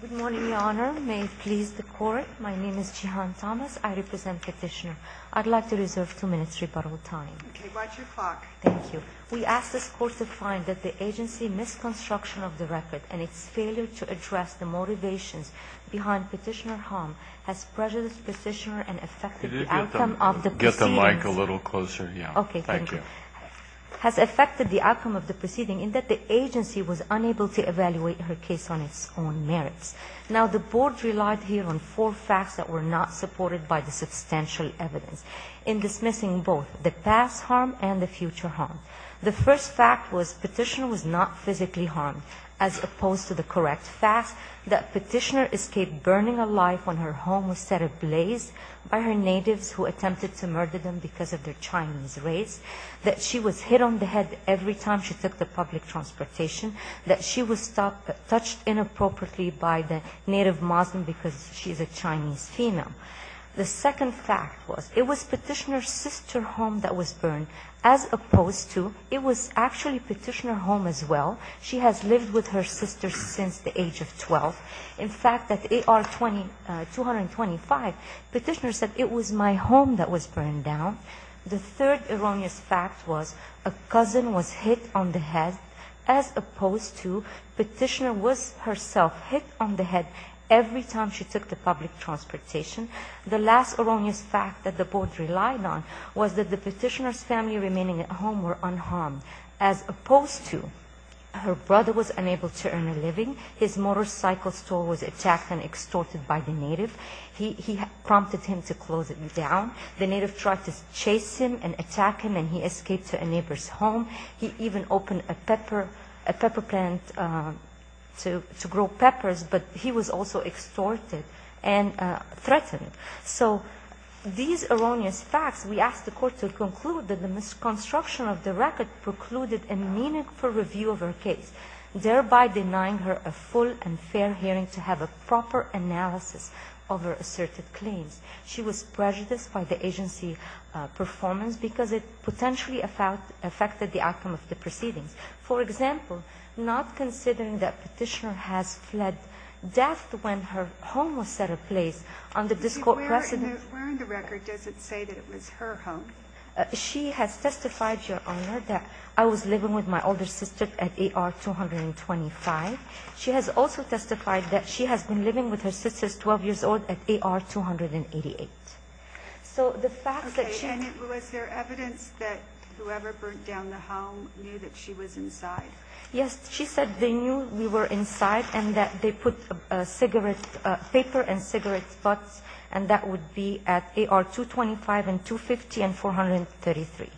Good morning, Your Honor. May it please the Court, my name is Jihan Thomas. I represent Petitioner. I'd like to reserve two minutes rebuttal time. Okay, watch your clock. Thank you. We ask this Court to find that the agency misconstruction of the record and its failure to address the motivations behind Petitioner's harm has prejudiced Petitioner and affected the outcome of the proceedings. Could you get the mic a little closer? Yeah. Okay, thank you. Petitioner has affected the outcome of the proceeding in that the agency was unable to evaluate her case on its own merits. Now, the Board relied here on four facts that were not supported by the substantial evidence in dismissing both the past harm and the future harm. The first fact was Petitioner was not physically harmed, as opposed to the correct fact that Petitioner escaped burning alive when her home was set ablaze by her natives who attempted to murder them because of their Chinese race. That she was hit on the head every time she took the public transportation. That she was touched inappropriately by the native Muslim because she's a Chinese female. The second fact was it was Petitioner's sister's home that was burned, as opposed to it was actually Petitioner's home as well. She has lived with her sister since the age of 12. In fact, at AR 225, Petitioner said, it was my home that was burned down. The third erroneous fact was a cousin was hit on the head, as opposed to Petitioner was herself hit on the head every time she took the public transportation. The last erroneous fact that the Board relied on was that the Petitioner's family remaining at home were unharmed, as opposed to her brother was unable to earn a living. His motorcycle store was attacked and extorted by the native. He prompted him to close it down. The native tried to chase him and attack him, and he escaped to a neighbor's home. He even opened a pepper plant to grow peppers, but he was also extorted and threatened. So these erroneous facts, we asked the Court to conclude that the misconstruction of the record precluded a meaningful review of her case, thereby denying her a full and fair hearing to have a proper analysis of her asserted claims. She was prejudiced by the agency performance because it potentially affected the outcome of the proceedings. For example, not considering that Petitioner has fled death when her home was set in place under this Court precedent. Where in the record does it say that it was her home? She has testified, Your Honor, that I was living with my older sister at AR 225. She has also testified that she has been living with her sisters 12 years old at AR 288. So the fact that she... Okay. And was there evidence that whoever burnt down the home knew that she was inside? Yes. She said they knew we were inside and that they put cigarette paper and cigarette butts, and that would be at AR 225 and 250 and 433.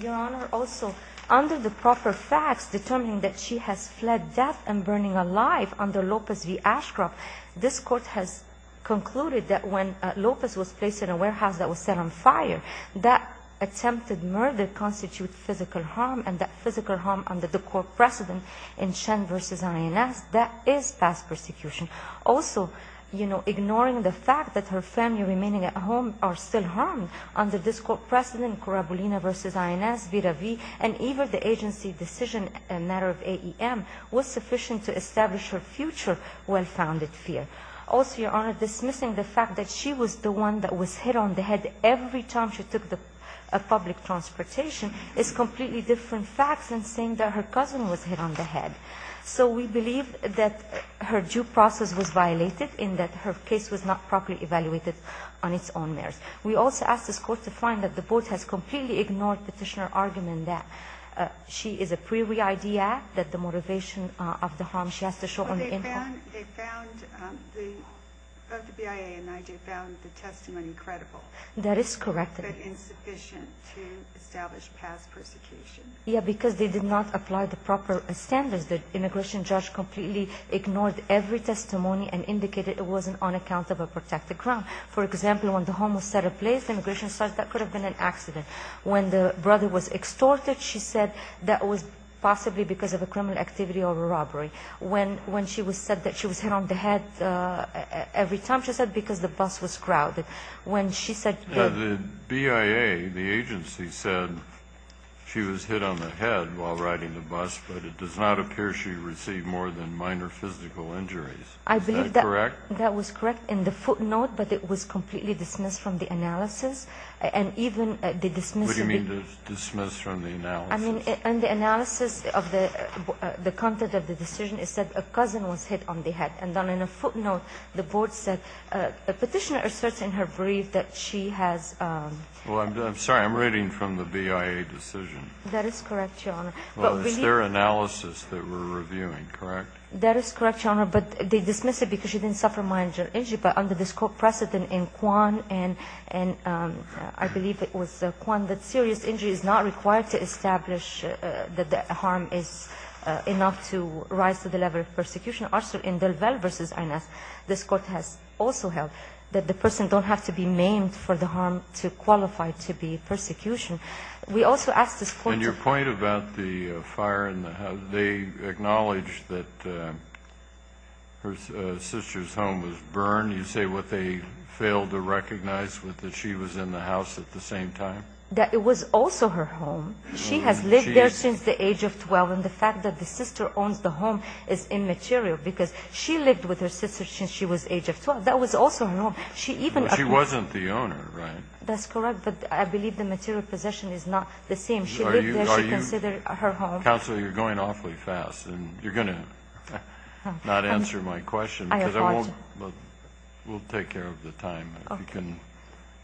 Your Honor, also, under the proper facts determining that she has fled death and burning alive under Lopez v. Ashcroft, this Court has concluded that when Lopez was placed in a warehouse that was set on fire, that attempted murder constitutes physical harm, and that physical harm under the court precedent in Shen v. INS, that is past persecution. Also, you know, ignoring the fact that her family remaining at home are still harmed under this Court precedent, Corabulina v. INS, Vera v. and even the agency decision, a matter of AEM, was sufficient to establish her future well-founded fear. Also, Your Honor, dismissing the fact that she was the one that was hit on the head every time she took public transportation is completely different facts than saying that her cousin was hit on the head. So we believe that her due process was violated in that her case was not properly evaluated on its own merits. We also ask this Court to find that the Court has completely ignored petitioner argument that she is a pre-re-ID act, that the motivation of the harm she has to show on the in-home. But they found, of the BIA and IJ, found the testimony credible. That is correct. But insufficient to establish past persecution. Yeah, because they did not apply the proper standards. The immigration judge completely ignored every testimony and indicated it wasn't on account of a protected crime. For example, when the home was set in place, the immigration judge said that could have been an accident. When the brother was extorted, she said that was possibly because of a criminal activity or a robbery. When she said that she was hit on the head every time, she said because the bus was crowded. When she said that the BIA, the agency, said she was hit on the head while riding the bus, but it does not appear she received more than minor physical injuries. Is that correct? I believe that was correct in the footnote, but it was completely dismissed from the analysis. And even the dismissal. What do you mean, dismissed from the analysis? I mean, in the analysis of the content of the decision, it said a cousin was hit on the head. And then in a footnote, the board said a Petitioner asserts in her brief that she has. Well, I'm sorry. I'm reading from the BIA decision. That is correct, Your Honor. Well, it's their analysis that we're reviewing, correct? That is correct, Your Honor. But they dismiss it because she didn't suffer minor injury. But under this precedent in Kwan, and I believe it was Kwan, that serious injury is not required to establish that the harm is enough to rise to the level of persecution. Also, in DelVal v. Ines, this Court has also held that the person don't have to be maimed for the harm to qualify to be persecution. We also ask this point of view. And your point about the fire in the house, they acknowledge that her sister's home was burned. You say what they failed to recognize was that she was in the house at the same time? That it was also her home. She has lived there since the age of 12. The fact that the sister owns the home is immaterial because she lived with her sister since she was age of 12. That was also her home. She wasn't the owner, right? That's correct, but I believe the material possession is not the same. She lived there. She considered it her home. Counsel, you're going awfully fast, and you're going to not answer my question. I apologize. We'll take care of the time. Okay. If you can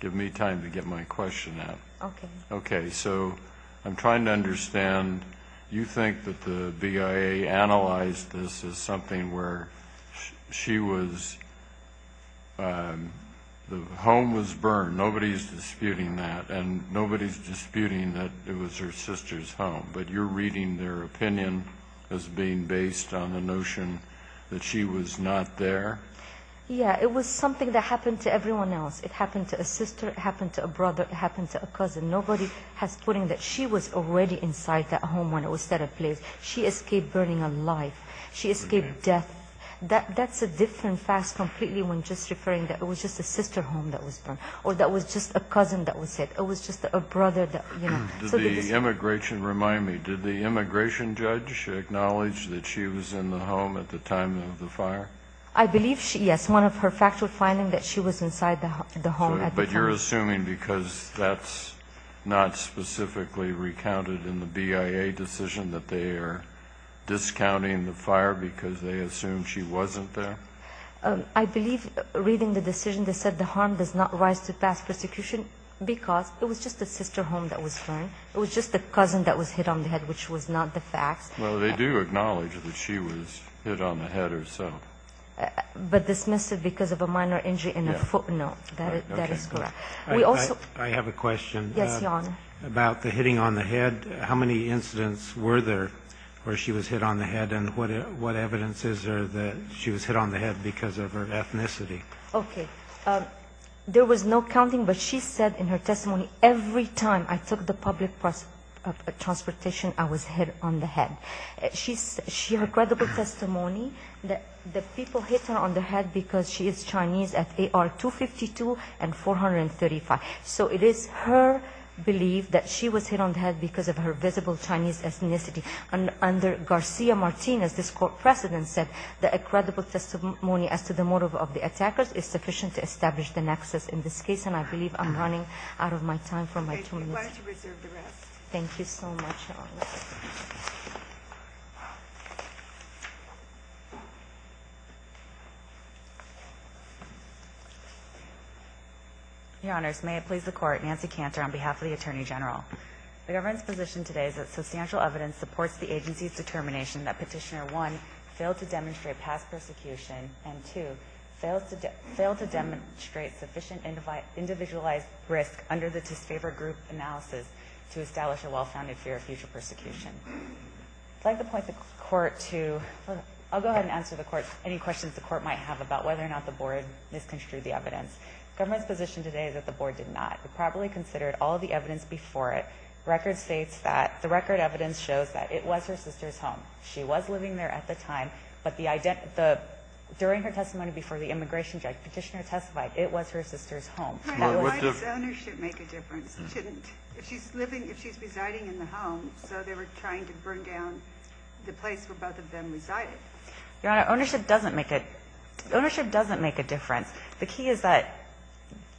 give me time to get my question out. Okay. Okay, so I'm trying to understand. You think that the BIA analyzed this as something where she was the home was burned. Nobody is disputing that, and nobody is disputing that it was her sister's home. But you're reading their opinion as being based on the notion that she was not there? Yeah, it was something that happened to everyone else. It happened to a sister. It happened to a brother. It happened to a cousin. Nobody is putting that she was already inside that home when it was set in place. She escaped burning alive. She escaped death. That's a different fact completely when just referring that it was just a sister's home that was burned, or that it was just a cousin that was set. It was just a brother that, you know. Does the immigration remind me, did the immigration judge acknowledge that she was in the home at the time of the fire? I believe, yes, one of her factual findings that she was inside the home at the time. But you're assuming because that's not specifically recounted in the BIA decision that they are discounting the fire because they assume she wasn't there? I believe, reading the decision, they said the harm does not rise to past persecution because it was just a sister home that was burned. It was just a cousin that was hit on the head, which was not the facts. Well, they do acknowledge that she was hit on the head herself. But dismissed it because of a minor injury in her foot? No, that is correct. I have a question. Yes, Your Honor. About the hitting on the head, how many incidents were there where she was hit on the head, and what evidence is there that she was hit on the head because of her ethnicity? Okay. There was no counting, but she said in her testimony, every time I took the public transportation, I was hit on the head. She had a credible testimony that people hit her on the head because she is Chinese at AR-252 and 435. So it is her belief that she was hit on the head because of her visible Chinese ethnicity. Under Garcia-Martinez, this court precedent said that a credible testimony as to the motive of the attackers is sufficient to establish the nexus in this case, and I believe I'm running out of my time for my two minutes. Thank you. Why don't you reserve the rest? Thank you so much, Your Honor. Your Honors, may I please the Court. Nancy Cantor on behalf of the Attorney General. The government's position today is that substantial evidence supports the agency's determination that Petitioner 1 failed to demonstrate past persecution and 2, failed to demonstrate sufficient individualized risk under the disfavor group analysis to establish a well-founded fear of future persecution. I'd like to point the Court to, I'll go ahead and answer the Court, any questions the Court might have about whether or not the Board misconstrued the evidence. The government's position today is that the Board did not. We probably considered all of the evidence before it. The record states that, the record evidence shows that it was her sister's home. She was living there at the time, but during her testimony before the immigration judge, Petitioner testified it was her sister's home. Why does ownership make a difference? If she's residing in the home, so they were trying to burn down the place where both of them resided. Your Honor, ownership doesn't make a difference. The key is that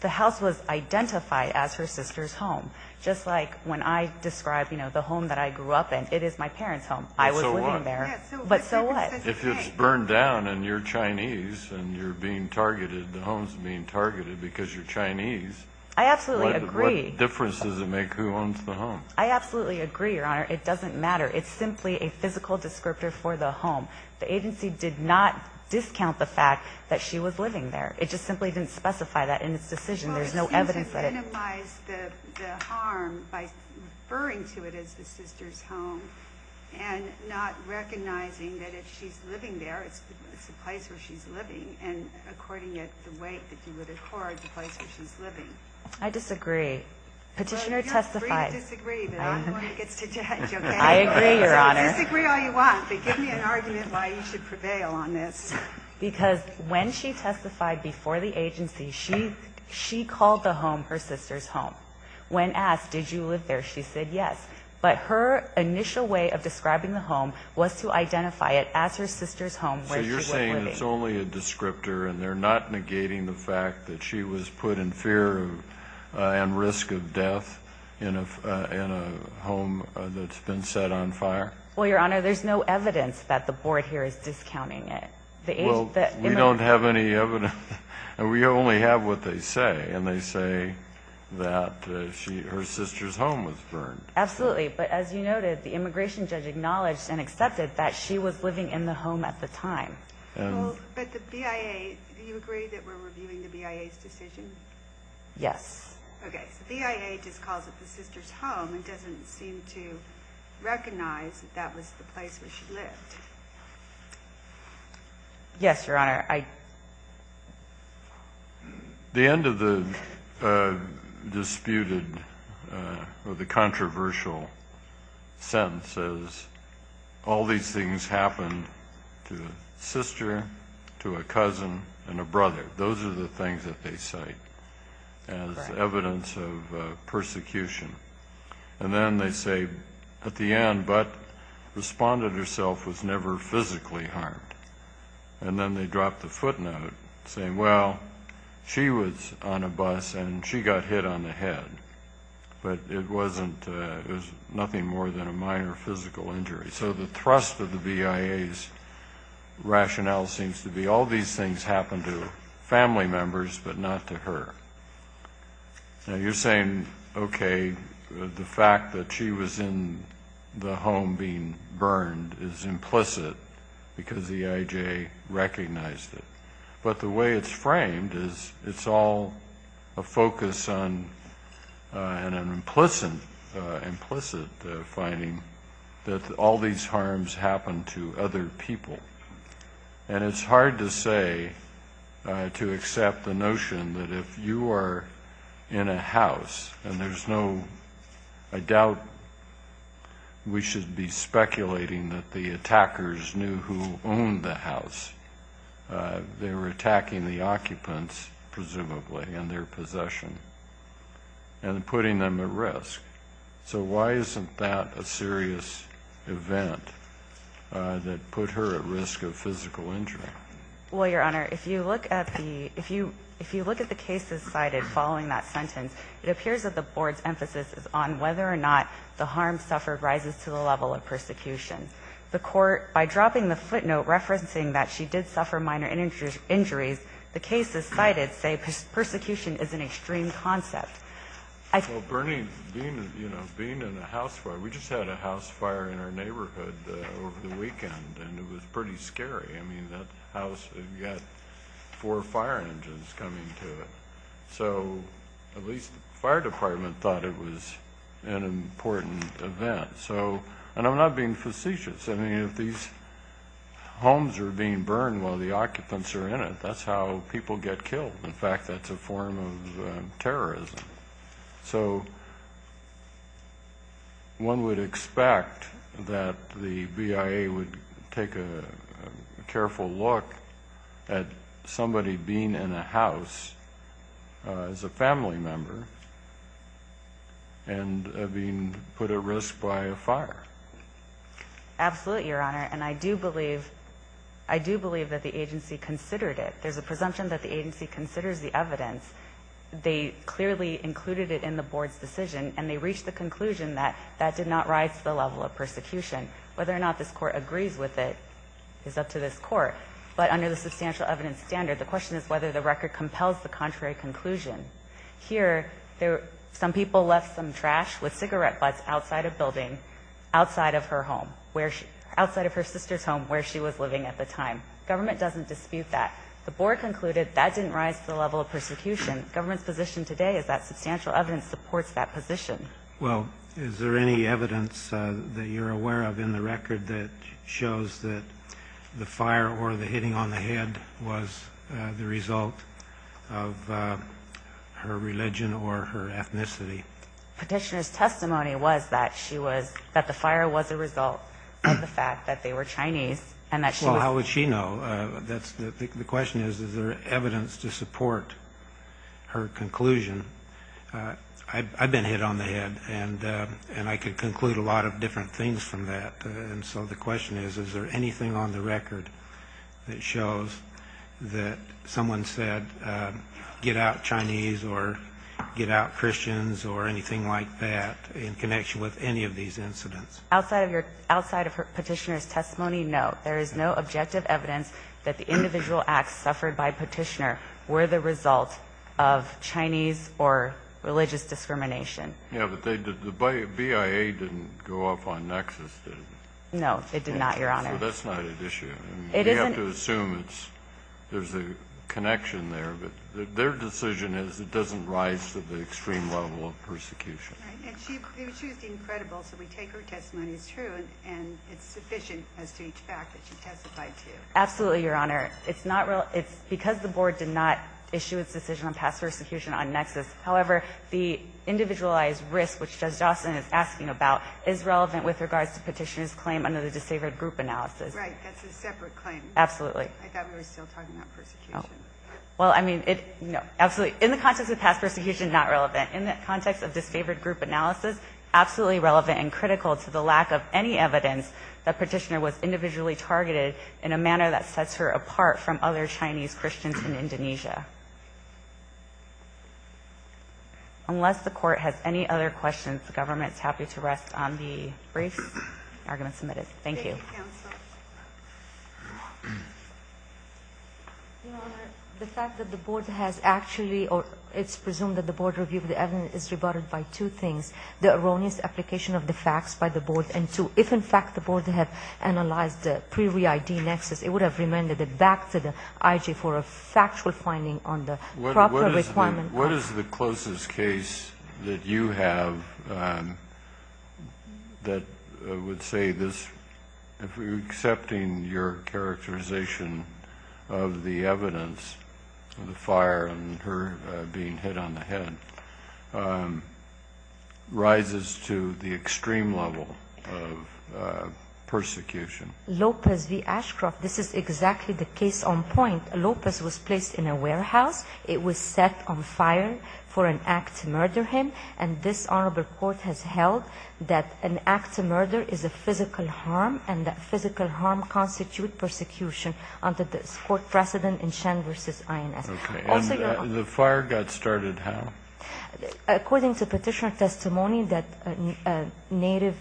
the house was identified as her sister's home. Just like when I describe the home that I grew up in, it is my parents' home. I was living there. But so what? If it's burned down and you're Chinese and you're being targeted, the home's being targeted because you're Chinese. I absolutely agree. What difference does it make who owns the home? I absolutely agree, Your Honor. It doesn't matter. It's simply a physical descriptor for the home. The agency did not discount the fact that she was living there. It just simply didn't specify that in its decision. There's no evidence of it. Well, the agency minimized the harm by referring to it as the sister's home and not recognizing that if she's living there, it's the place where she's living. And according to the way that you would accord the place where she's living. I disagree. Petitioner testified. Well, you're free to disagree, but I'm the one who gets to judge, okay? I agree, Your Honor. Disagree all you want, but give me an argument why you should prevail on this. Because when she testified before the agency, she called the home her sister's home. When asked, did you live there, she said yes. But her initial way of describing the home was to identify it as her sister's home where she was living. And it's only a descriptor, and they're not negating the fact that she was put in fear and risk of death in a home that's been set on fire? Well, Your Honor, there's no evidence that the board here is discounting it. Well, we don't have any evidence, and we only have what they say, and they say that her sister's home was burned. Absolutely, but as you noted, the immigration judge acknowledged and accepted that she was living in the home at the time. But the BIA, do you agree that we're reviewing the BIA's decision? Yes. Okay, so the BIA just calls it the sister's home and doesn't seem to recognize that that was the place where she lived. Yes, Your Honor. The end of the disputed or the controversial sentence says, all these things happened to a sister, to a cousin, and a brother. Those are the things that they cite as evidence of persecution. And then they say at the end, Butt responded herself was never physically harmed. And then they drop the footnote saying, well, she was on a bus, and she got hit on the head. But it was nothing more than a minor physical injury. So the thrust of the BIA's rationale seems to be, all these things happened to family members but not to her. Now, you're saying, okay, the fact that she was in the home being burned is implicit because the EIJ recognized it. But the way it's framed is it's all a focus on an implicit finding that all these harms happened to other people. And it's hard to say, to accept the notion that if you are in a house, and there's no doubt we should be speculating that the attackers knew who owned the house. They were attacking the occupants, presumably, and their possession, and putting them at risk. So why isn't that a serious event that put her at risk of physical injury? Well, Your Honor, if you look at the cases cited following that sentence, it appears that the Board's emphasis is on whether or not the harm suffered rises to the level of persecution. The Court, by dropping the footnote referencing that she did suffer minor injuries, the cases cited say persecution is an extreme concept. Well, Bernie, being in a house fire, we just had a house fire in our neighborhood over the weekend, and it was pretty scary. I mean, that house had got four fire engines coming to it. So at least the fire department thought it was an important event. And I'm not being facetious. I mean, if these homes are being burned while the occupants are in it, that's how people get killed. In fact, that's a form of terrorism. So one would expect that the BIA would take a careful look at somebody being in a house as a family member and being put at risk by a fire. Absolutely, Your Honor, and I do believe that the agency considered it. There's a presumption that the agency considers the evidence. They clearly included it in the board's decision, and they reached the conclusion that that did not rise to the level of persecution. Whether or not this Court agrees with it is up to this Court. But under the substantial evidence standard, the question is whether the record compels the contrary conclusion. Here, some people left some trash with cigarette butts outside a building outside of her home, outside of her sister's home where she was living at the time. Government doesn't dispute that. The board concluded that didn't rise to the level of persecution. Government's position today is that substantial evidence supports that position. Well, is there any evidence that you're aware of in the record that shows that the fire or the hitting on the head was the result of her religion or her ethnicity? Petitioner's testimony was that she was – that the fire was a result of the fact that they were Chinese, and that she was – The question is, is there evidence to support her conclusion? I've been hit on the head, and I could conclude a lot of different things from that. And so the question is, is there anything on the record that shows that someone said, get out Chinese or get out Christians or anything like that in connection with any of these incidents? Outside of your – outside of Petitioner's testimony, no. There is no objective evidence that the individual acts suffered by Petitioner were the result of Chinese or religious discrimination. Yeah, but they – the BIA didn't go off on nexus, did it? No, it did not, Your Honor. So that's not at issue. It isn't. We have to assume it's – there's a connection there, but their decision is it doesn't rise to the extreme level of persecution. And she was being credible, so we take her testimony as true, and it's sufficient as to each fact that she testified to. Absolutely, Your Honor. It's not – it's because the Board did not issue its decision on past persecution on nexus. However, the individualized risk, which Judge Dawson is asking about, is relevant with regards to Petitioner's claim under the disfavored group analysis. Right. That's a separate claim. Absolutely. I thought we were still talking about persecution. Well, I mean, it – absolutely. In the context of past persecution, not relevant. In the context of disfavored group analysis, absolutely relevant and critical to the lack of any evidence that Petitioner was individually targeted in a manner that sets her apart from other Chinese Christians in Indonesia. Unless the Court has any other questions, the Government is happy to rest on the briefs. Argument submitted. Thank you. Your Honor, the fact that the Board has actually – the erroneous application of the facts by the Board, and if, in fact, the Board had analyzed the pre-re-ID nexus, it would have remanded it back to the IG for a factual finding on the proper requirement. What is the closest case that you have that would say this, if we're accepting your characterization of the evidence, the fire and her being hit on the head, rises to the extreme level of persecution? Lopez v. Ashcroft. This is exactly the case on point. Lopez was placed in a warehouse. It was set on fire for an act to murder him, and this Honorable Court has held that an act to murder is a physical harm, and that physical harm constitutes persecution under this Court precedent in Shen v. INS. Okay. And the fire got started how? According to Petitioner's testimony, that a native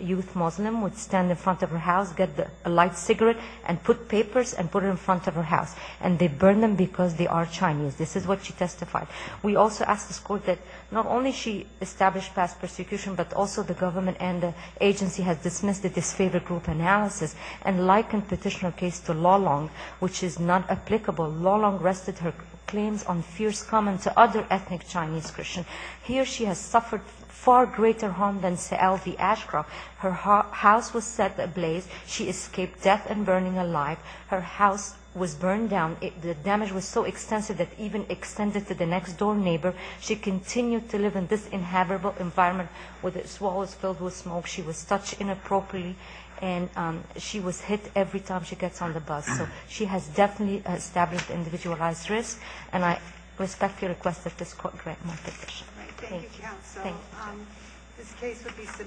youth Muslim would stand in front of her house, get a light cigarette, and put papers and put it in front of her house. And they burned them because they are Chinese. This is what she testified. We also ask this Court that not only she established past persecution, but also the government and the agency has dismissed the disfavored group analysis and likened Petitioner's case to Lulong, which is not applicable. Lulong rested her claims on fierce comment to other ethnic Chinese Christians. Here she has suffered far greater harm than Sa'al v. Ashcroft. Her house was set ablaze. She escaped death and burning alive. Her house was burned down. The damage was so extensive that it even extended to the next-door neighbor. She continued to live in this inhabitable environment with its walls filled with smoke. She was touched inappropriately, and she was hit every time she gets on the bus. So she has definitely established individualized risk, and I respectfully request that this Court grant more petition. Thank you, Counsel. Thank you. This case would be submitted on June 10.